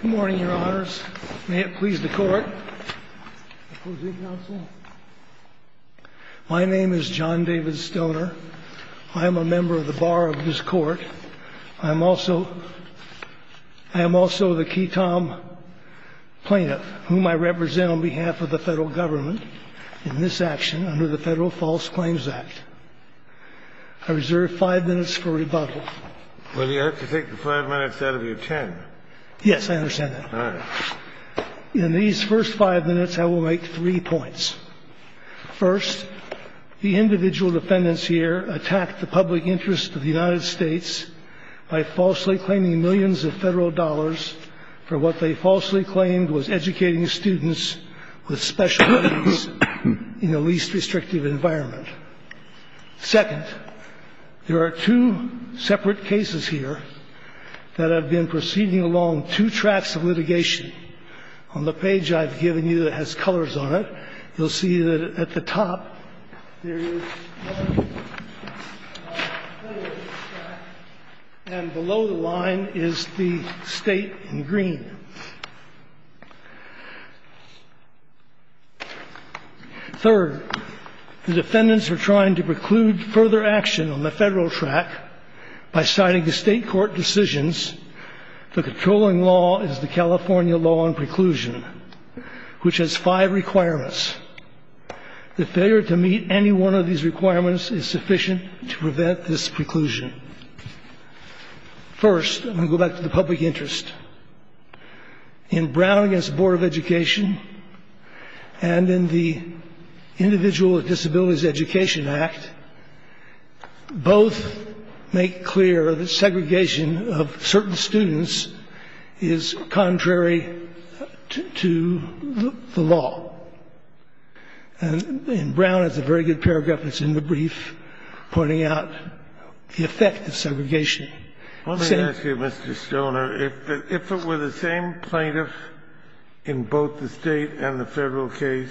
Good morning, your honors. May it please the court. Opposing counsel? My name is John David Stoner. I am a member of the bar of this court. I am also the key tom plaintiff, whom I represent on behalf of the federal government in this action under the Federal False Claims Act. I reserve five minutes for rebuttal. Well, you have to take the five minutes out of your ten. Yes, I understand that. All right. In these first five minutes, I will make three points. First, the individual defendants here attacked the public interest of the United States by falsely claiming millions of federal dollars for what they falsely claimed was educating students with special needs in the least restrictive environment. Second, there are two separate cases here that have been proceeding along two tracks of litigation. On the page I've given you that has colors on it, you'll see that at the top, there is red, and below the line is the state in green. Third, the defendants are trying to preclude further action on the federal track by citing the state court decisions. The controlling law is the California law on preclusion, which has five requirements. The failure to meet any one of these requirements is sufficient to prevent this preclusion. First, I'm going to go back to the public interest. In Brown v. Board of Education and in the Individual with Disabilities Education Act, both make clear that segregation of certain students is contrary to the law. And Brown has a very good paragraph that's in the brief pointing out the effect of segregation. Let me ask you, Mr. Stoner, if it were the same plaintiff in both the state and the federal case,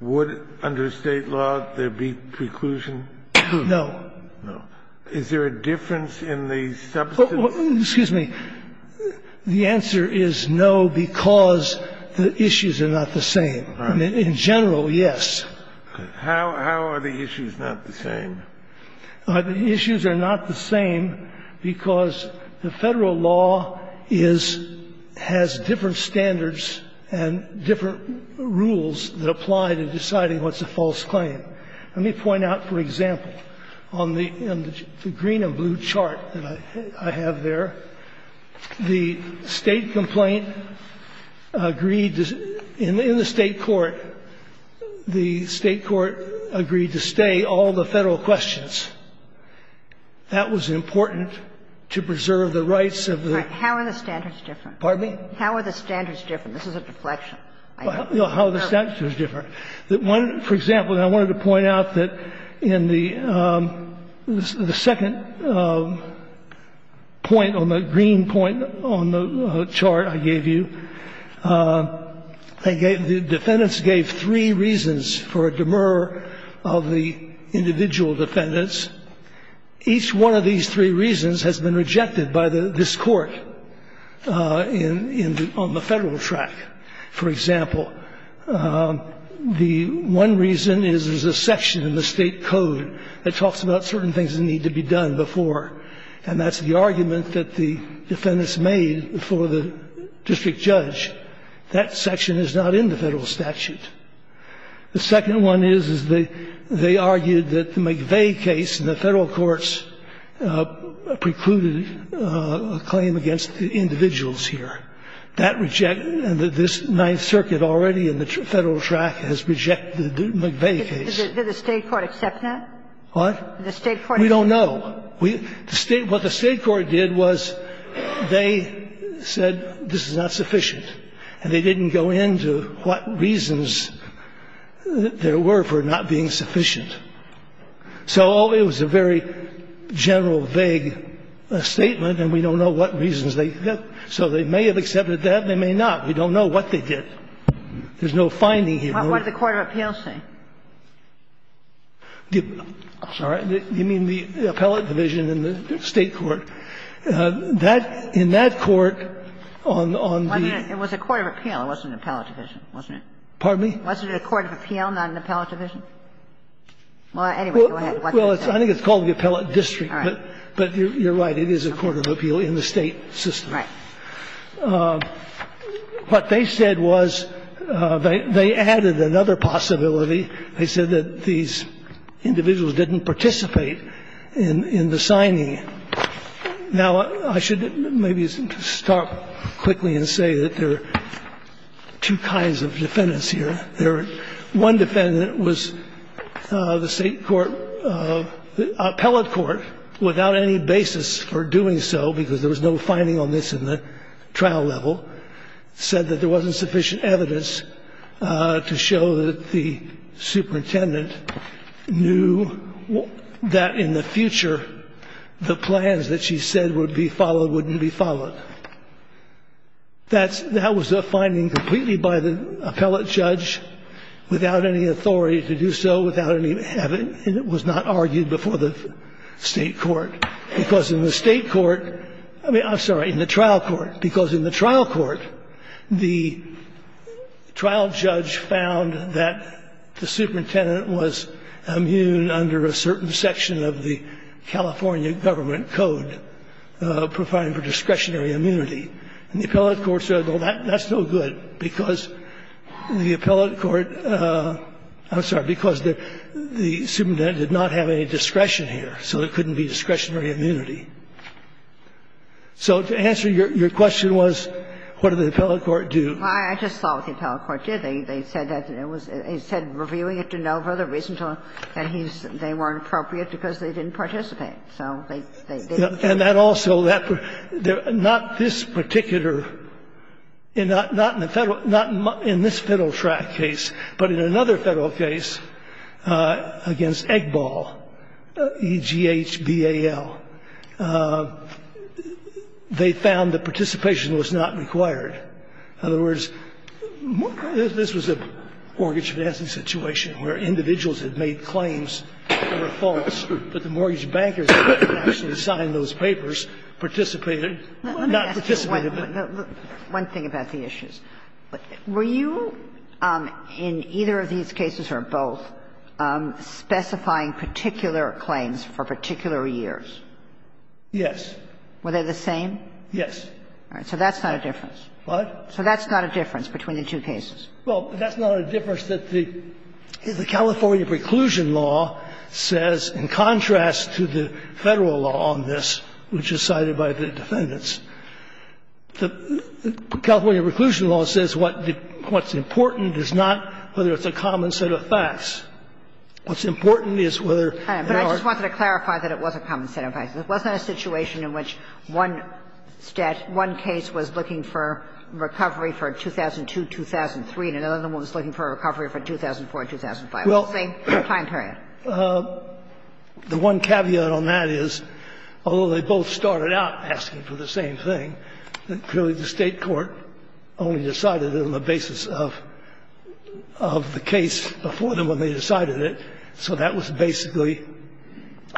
would under state law there be preclusion? No. No. Is there a difference in the substance? Excuse me. The answer is no, because the issues are not the same. In general, yes. How are the issues not the same? The issues are not the same because the federal law is — has different standards and different rules that apply to deciding what's a false claim. Let me point out, for example, on the green and blue chart that I have there, the State complaint agreed to — in the State court, the State court agreed to stay all the federal questions. That was important to preserve the rights of the — How are the standards different? Pardon me? How are the standards different? This is a deflection. How are the standards different? That one — for example, I wanted to point out that in the second point on the green point on the chart I gave you, the defendants gave three reasons for a demur of the individual defendants. Each one of these three reasons has been rejected by this Court on the federal track. For example, the one reason is there's a section in the State code that talks about certain things that need to be done before, and that's the argument that the defendants made before the district judge. That section is not in the federal statute. The second one is, is they argued that the McVeigh case in the federal courts precluded a claim against the individuals here. That rejects — and this Ninth Circuit already in the federal track has rejected the McVeigh case. Did the State court accept that? What? Did the State court accept that? We don't know. The State — what the State court did was they said this is not sufficient, and they didn't go into what reasons there were for not being sufficient. So it was a very general, vague statement, and we don't know what reasons they — so they may have accepted that. They may not. We don't know what they did. There's no finding here. What did the court of appeals say? I'm sorry. You mean the appellate division in the State court? That — in that court on the — It was a court of appeal. It wasn't an appellate division, wasn't it? Pardon me? Wasn't it a court of appeal, not an appellate division? Well, anyway, go ahead. Well, I think it's called the appellate district, but you're right. It is a court of appeal in the State system. Right. What they said was they added another possibility. They said that these individuals didn't participate in the signing. Now, I should maybe start quickly and say that there are two kinds of defendants here. One defendant was the State court — appellate court, without any basis for doing so because there was no finding on this in the trial level, said that there wasn't sufficient evidence to show that the superintendent knew that in the future, the plans that she said would be followed wouldn't be followed. That's — that was a finding completely by the appellate judge, without any authority to do so, without any — and it was not argued before the State court, because in the State court — I mean, I'm sorry, in the trial court, because in the trial court, the trial judge found that the superintendent was immune under a certain section of the California government code providing for discretionary immunity. And the appellate court said, well, that's no good because the appellate court — I'm sorry, because the superintendent did not have any discretion here, so there couldn't be discretionary immunity. So to answer your question was, what did the appellate court do? Well, I just saw what the appellate court did. They said that it was — it said reviewing it to no further reason to — and he's — they weren't appropriate because they didn't participate. So they didn't. And that also — not this particular — not in the Federal — not in this Federal track case, but in another Federal case against Eggball, E-G-H-B-A-L, they found that participation was not required. In other words, this was a mortgage financing situation where individuals had made claims that were false, but the mortgage bankers that had actually signed those papers participated, not participated. One thing about the issues. Were you, in either of these cases or both, specifying particular claims for particular years? Yes. Were they the same? Yes. All right. So that's not a difference. What? So that's not a difference between the two cases. Well, that's not a difference that the — the California preclusion law says, in contrast to the Federal law on this, which is cited by the defendants, the California preclusion law says what's important is not whether it's a common set of facts. What's important is whether there are — But I just wanted to clarify that it was a common set of facts. It wasn't a situation in which one case was looking for recovery for 2002-2003 and another one was looking for recovery for 2004-2005. It was the same time period. Well, the one caveat on that is, although they both started out asking for the same thing, clearly the State court only decided it on the basis of the case before them when they decided it. So that was basically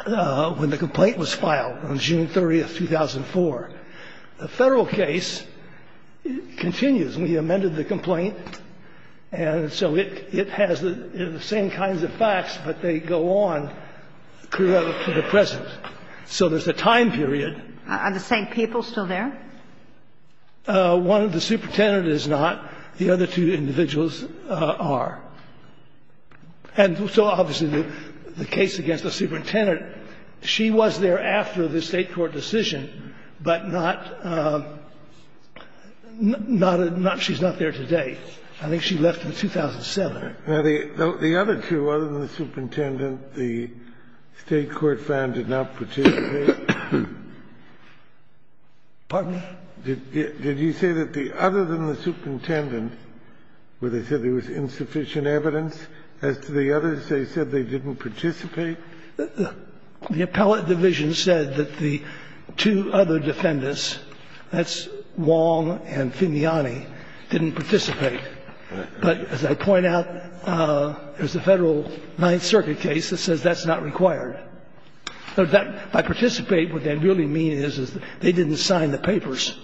when the complaint was filed on June 30th, 2004. The Federal case continues. We amended the complaint. And so it has the same kinds of facts, but they go on for the present. So there's a time period. Are the same people still there? One of the superintendents is not. The other two individuals are. And so obviously the case against the superintendent, she was there after the State court decision, but not — not a — she's not there today. I think she left in 2007. Now, the other two, other than the superintendent, the State court found did not participate. Pardon me? Did you say that the other than the superintendent, where they said there was insufficient evidence, as to the others, they said they didn't participate? The appellate division said that the two other defendants, that's Wong and Finiani, didn't participate. But as I point out, there's a Federal Ninth Circuit case that says that's not required. So that — by participate, what they really mean is, is they didn't sign the papers.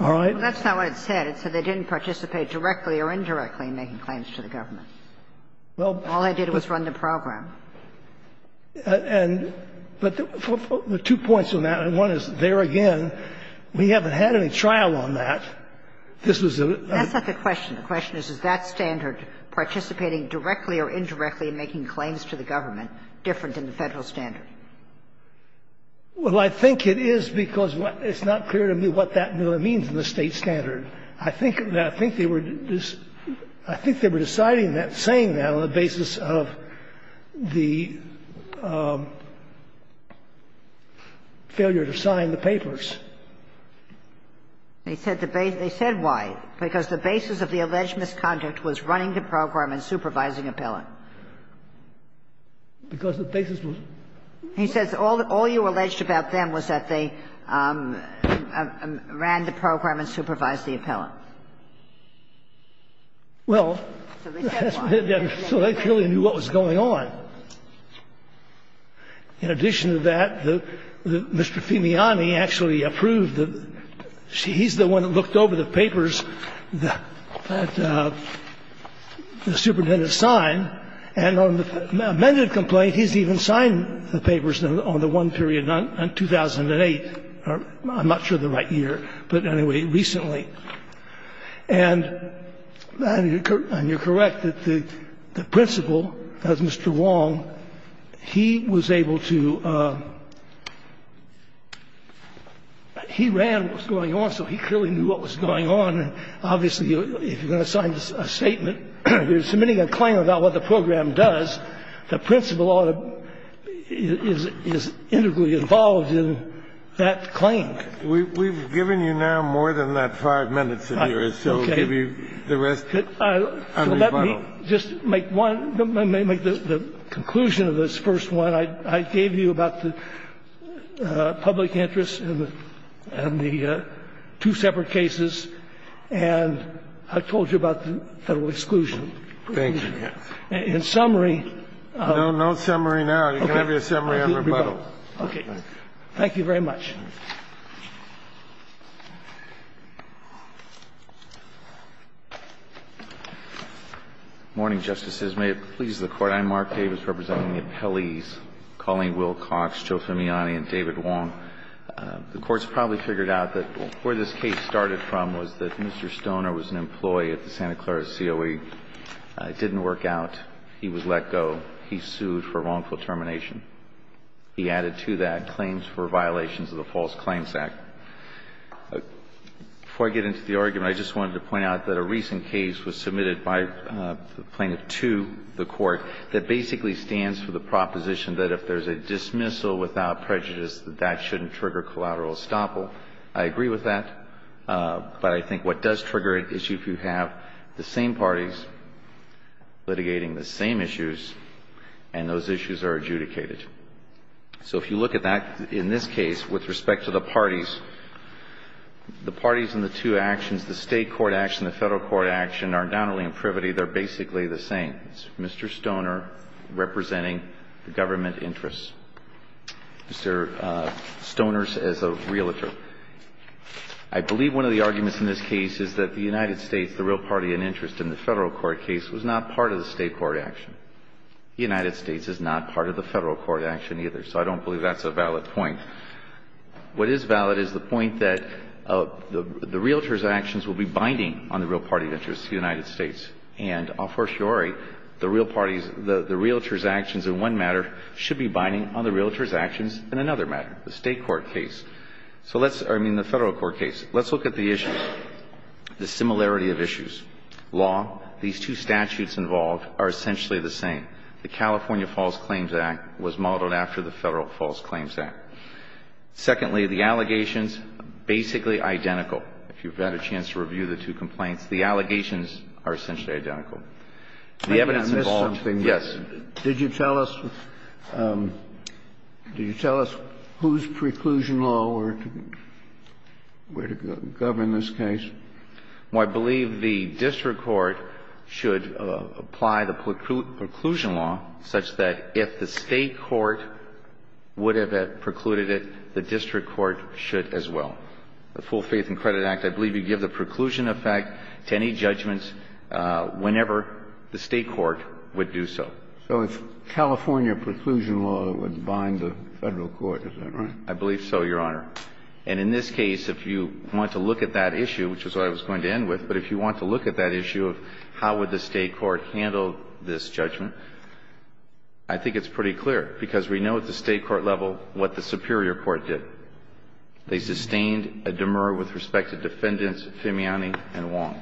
All right? Well, that's not what it said. It said they didn't participate directly or indirectly in making claims to the government. Well, but — All they did was run the program. And — but there are two points on that. And one is, there again, we haven't had any trial on that. This was a — That's not the question. The question is, is that standard, participating directly or indirectly in making claims to the government, different than the Federal standard? Well, I think it is, because it's not clear to me what that really means in the State standard. I think they were just — I think they were deciding that, saying that, on the basis of the failure to sign the papers. They said the base — they said why? Because the basis of the alleged misconduct was running the program and supervising the appellant. Because the basis was — He says all you alleged about them was that they ran the program and supervised the appellant. Well, that's what they did. So they clearly knew what was going on. In addition to that, Mr. Fimiani actually approved the — he's the one that looked over the papers that the superintendent signed. And on the amended complaint, he's even signed the papers on the one period, 2008. I'm not sure of the right year, but anyway, recently. And you're correct that the principal, as Mr. Wong, he was able to — he ran what was going on, so he clearly knew what was going on. Obviously, if you're going to sign a statement, you're submitting a claim about what the program does. The principal ought to — is integrally involved in that claim. We've given you now more than that five minutes of yours, so we'll give you the rest on rebuttal. Let me just make one — make the conclusion of this first one. I gave you about the public interest and the two separate cases, and I told you about the Federal exclusion. Thank you, yes. In summary — No, no summary now. You can have your summary on rebuttal. Okay. Thank you very much. Morning, Justices. May it please the Court. I'm Mark Davis representing the appellees, Colleen Wilcox, Joe Femiani, and David Wong. The Court's probably figured out that where this case started from was that Mr. Stoner was an employee at the Santa Clara COE. It didn't work out. He was let go. He sued for wrongful termination. He added to that claims for violations of the False Claims Act. Before I get into the argument, I just wanted to point out that a recent case was submitted by the plaintiff to the Court that basically stands for the proposition that if there's a dismissal without prejudice, that that shouldn't trigger collateral estoppel. I agree with that. But I think what does trigger it is if you have the same parties litigating the same issues, and those issues are adjudicated. So if you look at that in this case with respect to the parties, the parties in the two actions, the State court action and the Federal court action, are not only in privity, they're basically the same. It's Mr. Stoner representing the government interests. Mr. Stoner is a realtor. I believe one of the arguments in this case is that the United States, the real party in interest in the Federal court case, was not part of the State court action. The United States is not part of the Federal court action either. So I don't believe that's a valid point. What is valid is the point that the realtor's actions will be binding on the real party of interest, the United States. And a fortiori, the real parties, the realtor's actions in one matter should be binding on the realtor's actions in another matter, the State court case. So let's, I mean, the Federal court case. Let's look at the issues, the similarity of issues. Law, these two statutes involved are essentially the same. The California False Claims Act was modeled after the Federal False Claims Act. Secondly, the allegations, basically identical. If you've had a chance to review the two complaints, the allegations are essentially identical. The evidence involved, yes. Kennedy, did you tell us whose preclusion law were to govern this case? Well, I believe the district court should apply the preclusion law such that if the State court would have precluded it, the district court should as well. The Full Faith and Credit Act, I believe you give the preclusion effect to any judgments whenever the State court would do so. So if California preclusion law would bind the Federal court, is that right? I believe so, Your Honor. And in this case, if you want to look at that issue, which is what I was going to end with, but if you want to look at that issue of how would the State court handle this judgment, I think it's pretty clear, because we know at the State court level what the superior court did. They sustained a demur with respect to defendants Fimiani and Wong.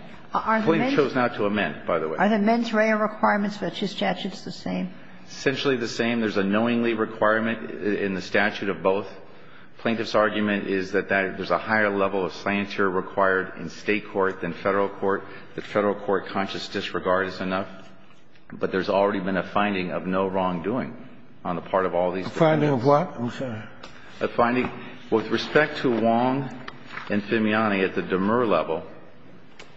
We've chosen not to amend, by the way. Are the mens rea requirements for the two statutes the same? Essentially the same. There's a knowingly requirement in the statute of both. Plaintiff's argument is that there's a higher level of slander required in State court than Federal court. The Federal court conscious disregard is enough. But there's already been a finding of no wrongdoing on the part of all these defendants. A finding of what? A finding with respect to Wong and Fimiani at the demur level.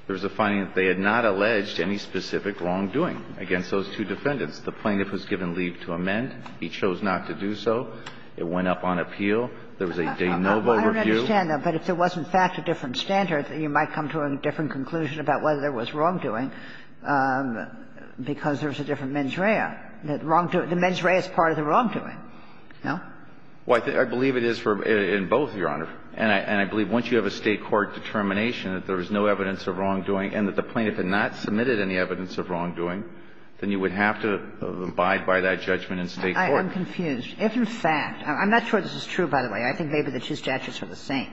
There's a finding that they had not alleged any specific wrongdoing against those two defendants. The plaintiff was given leave to amend. He chose not to do so. It went up on appeal. There was a de novo review. Well, I don't understand that. But if there was, in fact, a different standard, you might come to a different conclusion about whether there was wrongdoing, because there's a different mens rea. The mens rea is part of the wrongdoing, no? Well, I believe it is in both, Your Honor. And I believe once you have a State court determination that there was no evidence of wrongdoing and that the plaintiff had not submitted any evidence of wrongdoing, then you would have to abide by that judgment in State court. I'm confused. If, in fact – I'm not sure this is true, by the way. I think maybe the two statutes are the same.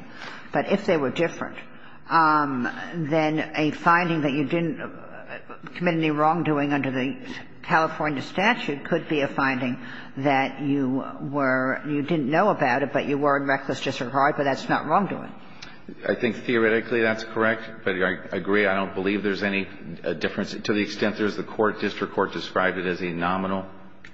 But if they were different, then a finding that you didn't commit any wrongdoing under the California statute could be a finding that you were – you didn't know about it, but you were in reckless disregard, but that's not wrongdoing. I think theoretically that's correct. But I agree, I don't believe there's any difference to the extent there is. The court, district court, described it as a nominal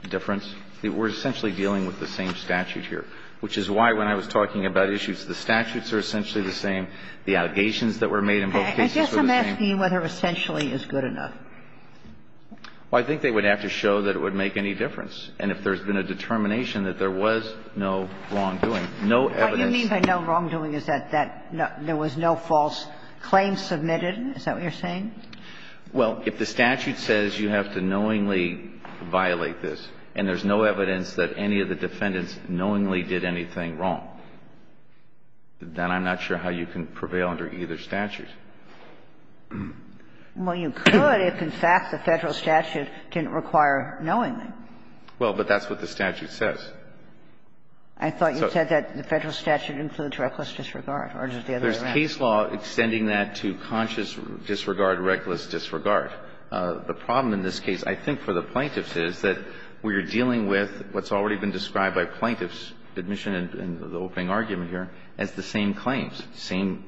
difference. We're essentially dealing with the same statute here, which is why when I was talking about issues, the statutes are essentially the same. The allegations that were made in both cases were the same. I guess I'm asking you whether essentially is good enough. Well, I think they would have to show that it would make any difference. And if there's been a determination that there was no wrongdoing, no evidence – What you mean by no wrongdoing is that there was no false claims submitted? Is that what you're saying? Well, if the statute says you have to knowingly violate this and there's no evidence that any of the defendants knowingly did anything wrong, then I'm not sure how you can prevail under either statute. Well, you could if, in fact, the Federal statute didn't require knowingly. Well, but that's what the statute says. I thought you said that the Federal statute includes reckless disregard, or is it the other way around? There's case law extending that to conscious disregard, reckless disregard. The problem in this case, I think, for the plaintiffs is that we are dealing with what's already been described by plaintiffs' admission in the opening argument here as the same claims, same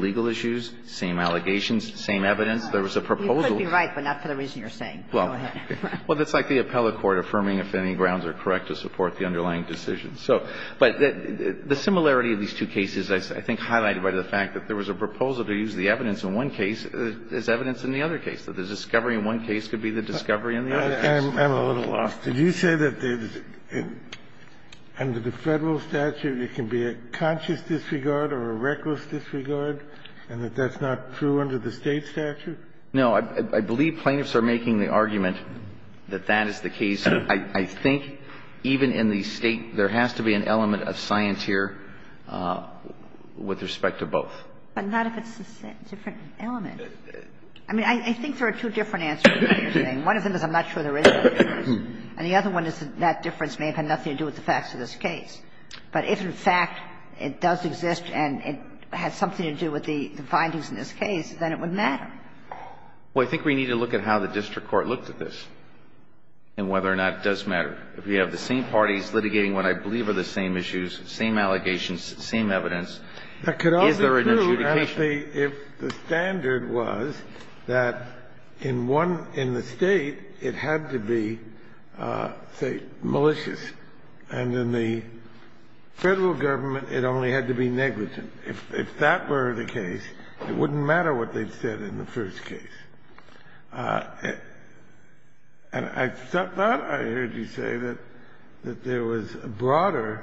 legal issues, same allegations, same evidence. There was a proposal. You could be right, but not for the reason you're saying. Go ahead. Well, that's like the appellate court affirming if any grounds are correct to support the underlying decision. So, but the similarity of these two cases, I think, highlighted by the fact that there was a proposal to use the evidence in one case as evidence in the other case, that the discovery in one case could be the discovery in the other case. I'm a little lost. Did you say that under the Federal statute it can be a conscious disregard or a reckless disregard, and that that's not true under the State statute? No. I believe plaintiffs are making the argument that that is the case. I think even in the State, there has to be an element of scienteer with respect to both. But not if it's a different element. I mean, I think there are two different answers to what you're saying. One of them is I'm not sure there is a difference, and the other one is that difference may have had nothing to do with the facts of this case. But if in fact it does exist and it has something to do with the findings in this case, then it would matter. Well, I think we need to look at how the district court looked at this and whether or not it does matter. If we have the same parties litigating what I believe are the same issues, same allegations, same evidence, is there an adjudication? That could also be true, actually, if the standard was that in one – in the State, it had to be, say, malicious, and in the Federal government, it only had to be negligent. If that were the case, it wouldn't matter what they said in the first case. And I thought I heard you say that there was a broader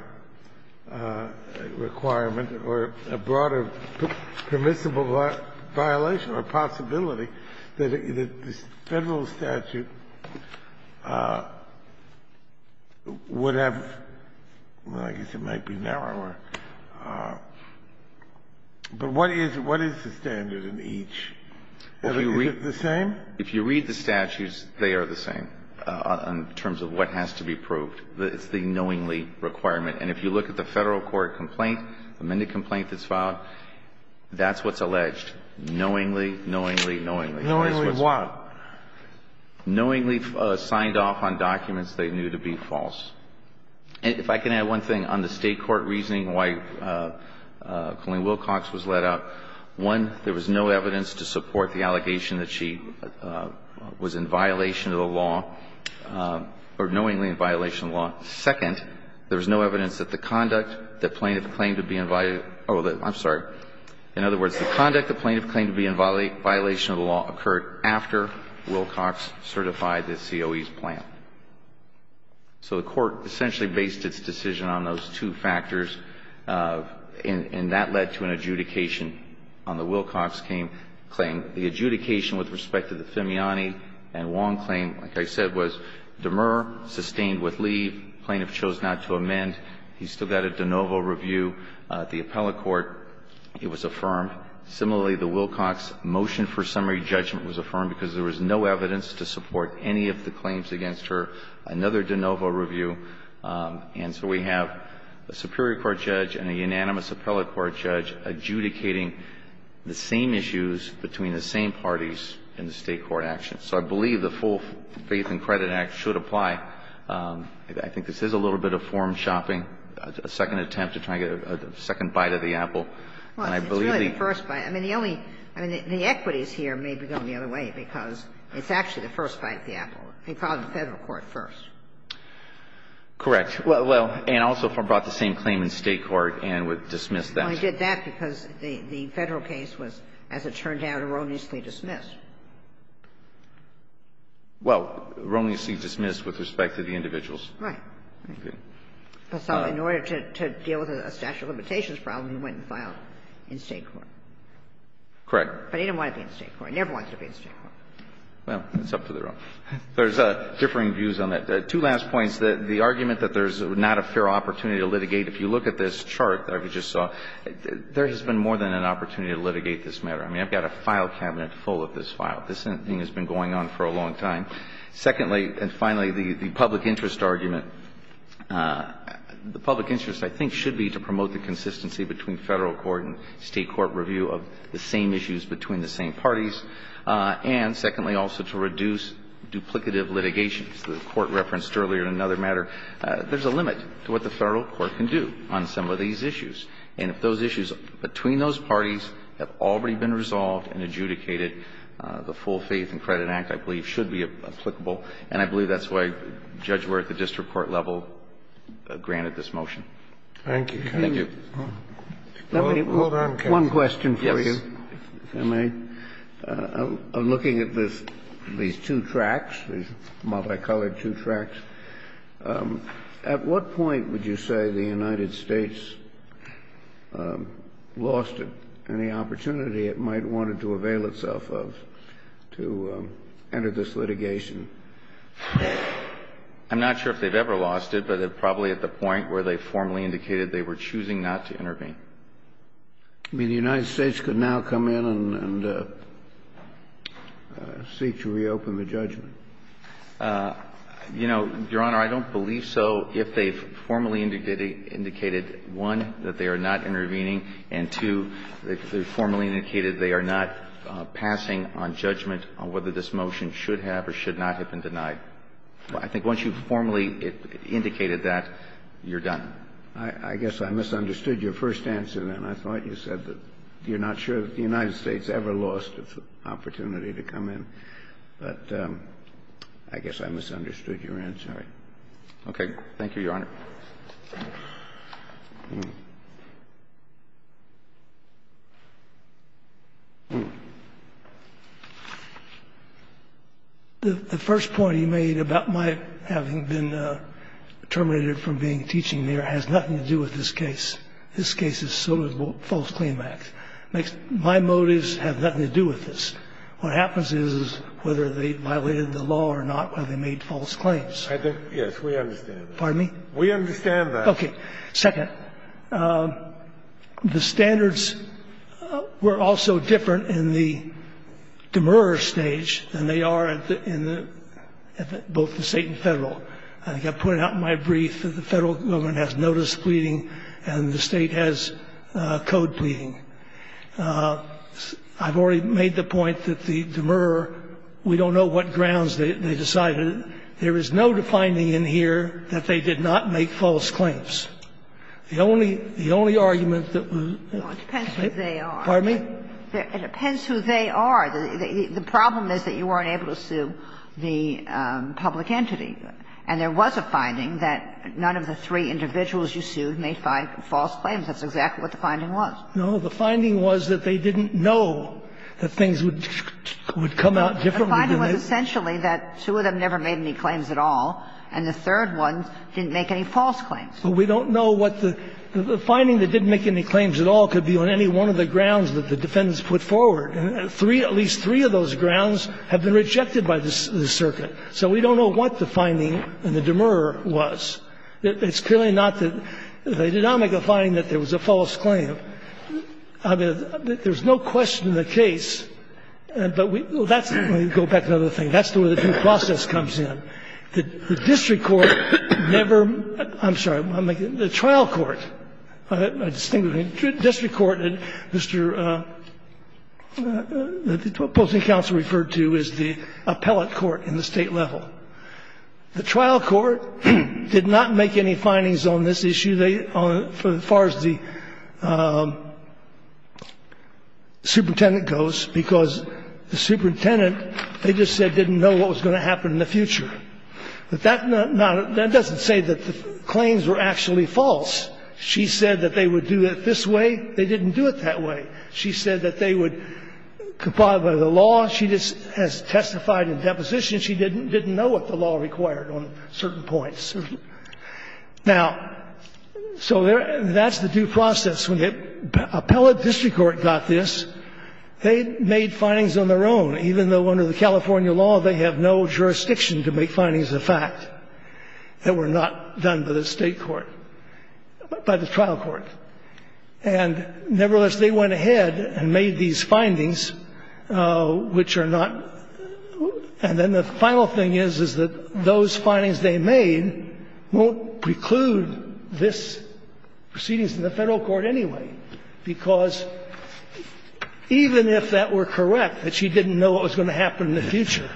requirement or a broader permissible violation or possibility that this Federal statute would have – well, I guess it might be narrower. But what is the standard in each? Is it the same? If you read the statutes, they are the same in terms of what has to be proved. It's the knowingly requirement. And if you look at the Federal court complaint, the amended complaint that's filed, that's what's alleged, knowingly, knowingly, knowingly. Knowingly what? Knowingly signed off on documents they knew to be false. And if I can add one thing on the State court reasoning why Colleen Wilcox was let out, one, there was no evidence to support the allegation that she was in violation of the law or knowingly in violation of the law. Second, there was no evidence that the conduct that plaintiff claimed to be in – oh, I'm sorry. In other words, the conduct the plaintiff claimed to be in violation of the law occurred after Wilcox certified the COE's plan. So the Court essentially based its decision on those two factors, and that led to an adjudication on the Wilcox claim. The adjudication with respect to the Fimiani and Wong claim, like I said, was demur, sustained with leave, plaintiff chose not to amend. He still got a de novo review. The appellate court, it was affirmed. Similarly, the Wilcox motion for summary judgment was affirmed because there was no evidence to support any of the claims against her. Another de novo review. And so we have a superior court judge and a unanimous appellate court judge adjudicating the same issues between the same parties in the State court action. So I believe the full Faith and Credit Act should apply. I think this is a little bit of form-shopping, a second attempt to try to get a second bite of the apple. And I believe the – It's actually the first bite of the apple. He filed in Federal court first. Correct. Well, and also brought the same claim in State court and dismissed that. Well, he did that because the Federal case was, as it turned out, erroneously dismissed. Well, erroneously dismissed with respect to the individuals. Right. So in order to deal with a statute of limitations problem, he went and filed in State court. Correct. But he didn't want to be in State court. He never wanted to be in State court. Well, it's up to the Roe. There's differing views on that. Two last points. The argument that there's not a fair opportunity to litigate. If you look at this chart that we just saw, there has been more than an opportunity to litigate this matter. I mean, I've got a file cabinet full of this file. This thing has been going on for a long time. Secondly, and finally, the public interest argument. The public interest, I think, should be to promote the consistency between Federal court and State court review of the same issues between the same parties. And secondly, also to reduce duplicative litigations. The Court referenced earlier in another matter. There's a limit to what the Federal court can do on some of these issues. And if those issues between those parties have already been resolved and adjudicated, the Full Faith and Credit Act, I believe, should be applicable. And I believe that's why Judge Ware at the district court level granted this motion. Thank you. Thank you. One question for you, if I may. I'm looking at these two tracts, these multicolored two tracts. At what point would you say the United States lost any opportunity it might want to avail itself of to enter this litigation? I'm not sure if they've ever lost it, but probably at the point where they formally indicated they were choosing not to intervene. I mean, the United States could now come in and seek to reopen the judgment. You know, Your Honor, I don't believe so. If they formally indicated, one, that they are not intervening, and two, they formally indicated they are not passing on judgment on whether this motion should have or should not have been denied. I think once you formally indicated that, you're done. I guess I misunderstood your first answer, then. I thought you said that you're not sure that the United States ever lost its opportunity to come in. But I guess I misunderstood your answer. Okay. Thank you, Your Honor. The first point you made about my having been terminated from being teaching in New York has nothing to do with this case. This case is still a false claim act. My motives have nothing to do with this. What happens is, whether they violated the law or not, whether they made false claims. Yes, we understand that. Pardon me? We understand that. Okay. Second, the standards were also different in the demurrer stage than they are in the both the State and Federal. I think I put it out in my brief that the Federal government has notice pleading and the State has code pleading. I've already made the point that the demurrer, we don't know what grounds they decided it. There is no defining in here that they did not make false claims. The only argument that was the only argument that was the only argument that was the only argument that was the only argument that was the only argument that was the only And there was a finding that none of the three individuals you sued made five false claims. That is exactly what the finding was. No, the finding was that they didn't know that things would come out differently than they did. No, the finding was essentially that two of them never made any claims at all and the third one didn't make any false claims. But we don't know what the – the finding they didn't make any claims at all could be on any one of the grounds that the defendants put forward, and at least three of those grounds have been rejected by the circuit. So we don't know what the finding in the demurrer was. It's clearly not that – they did not make a finding that there was a false claim. I mean, there's no question in the case, but we – well, that's – let me go back to another thing. That's the way the due process comes in. The district court never – I'm sorry, I'm making – the trial court, a distinguished district court, Mr. – the opposing counsel referred to as the appellate court in the case of the defendant, never made any findings on this issue at the state level. The trial court did not make any findings on this issue, they – as far as the superintendent goes, because the superintendent, they just said didn't know what was going to happen in the future. But that doesn't say that the claims were actually false. She said that they would do it this way. They didn't know what the law required on certain points. Now, so there – that's the due process. When the appellate district court got this, they made findings on their own, even though under the California law, they have no jurisdiction to make findings of fact that were not done by the state court – by the trial court. And nevertheless, they went ahead and made these findings, which are not – and then the final thing is, is that those findings they made won't preclude this proceedings in the Federal court anyway, because even if that were correct, that she didn't know what was going to happen in the future,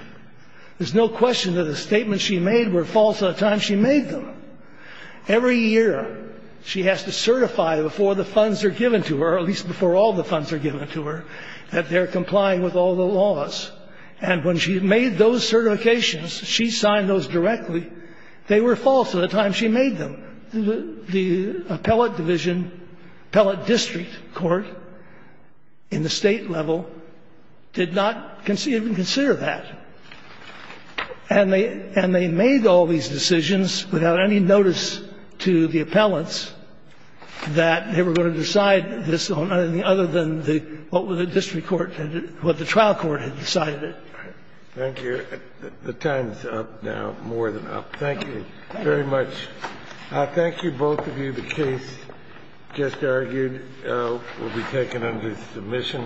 there's no question that the statements she made were false at the time she made them. Every year, she has to certify before the funds are given to her, at least before all the funds are given to her, that they're complying with all the laws. And when she made those certifications, she signed those directly. They were false at the time she made them. The appellate division, appellate district court in the state level did not even consider that. And they – and they made all these decisions without any notice to the appellants that they were going to decide this on anything other than the – what the district court had – what the trial court had decided. Thank you. The time is up now, more than up. Thank you very much. Thank you, both of you. The case just argued will be taken under submission.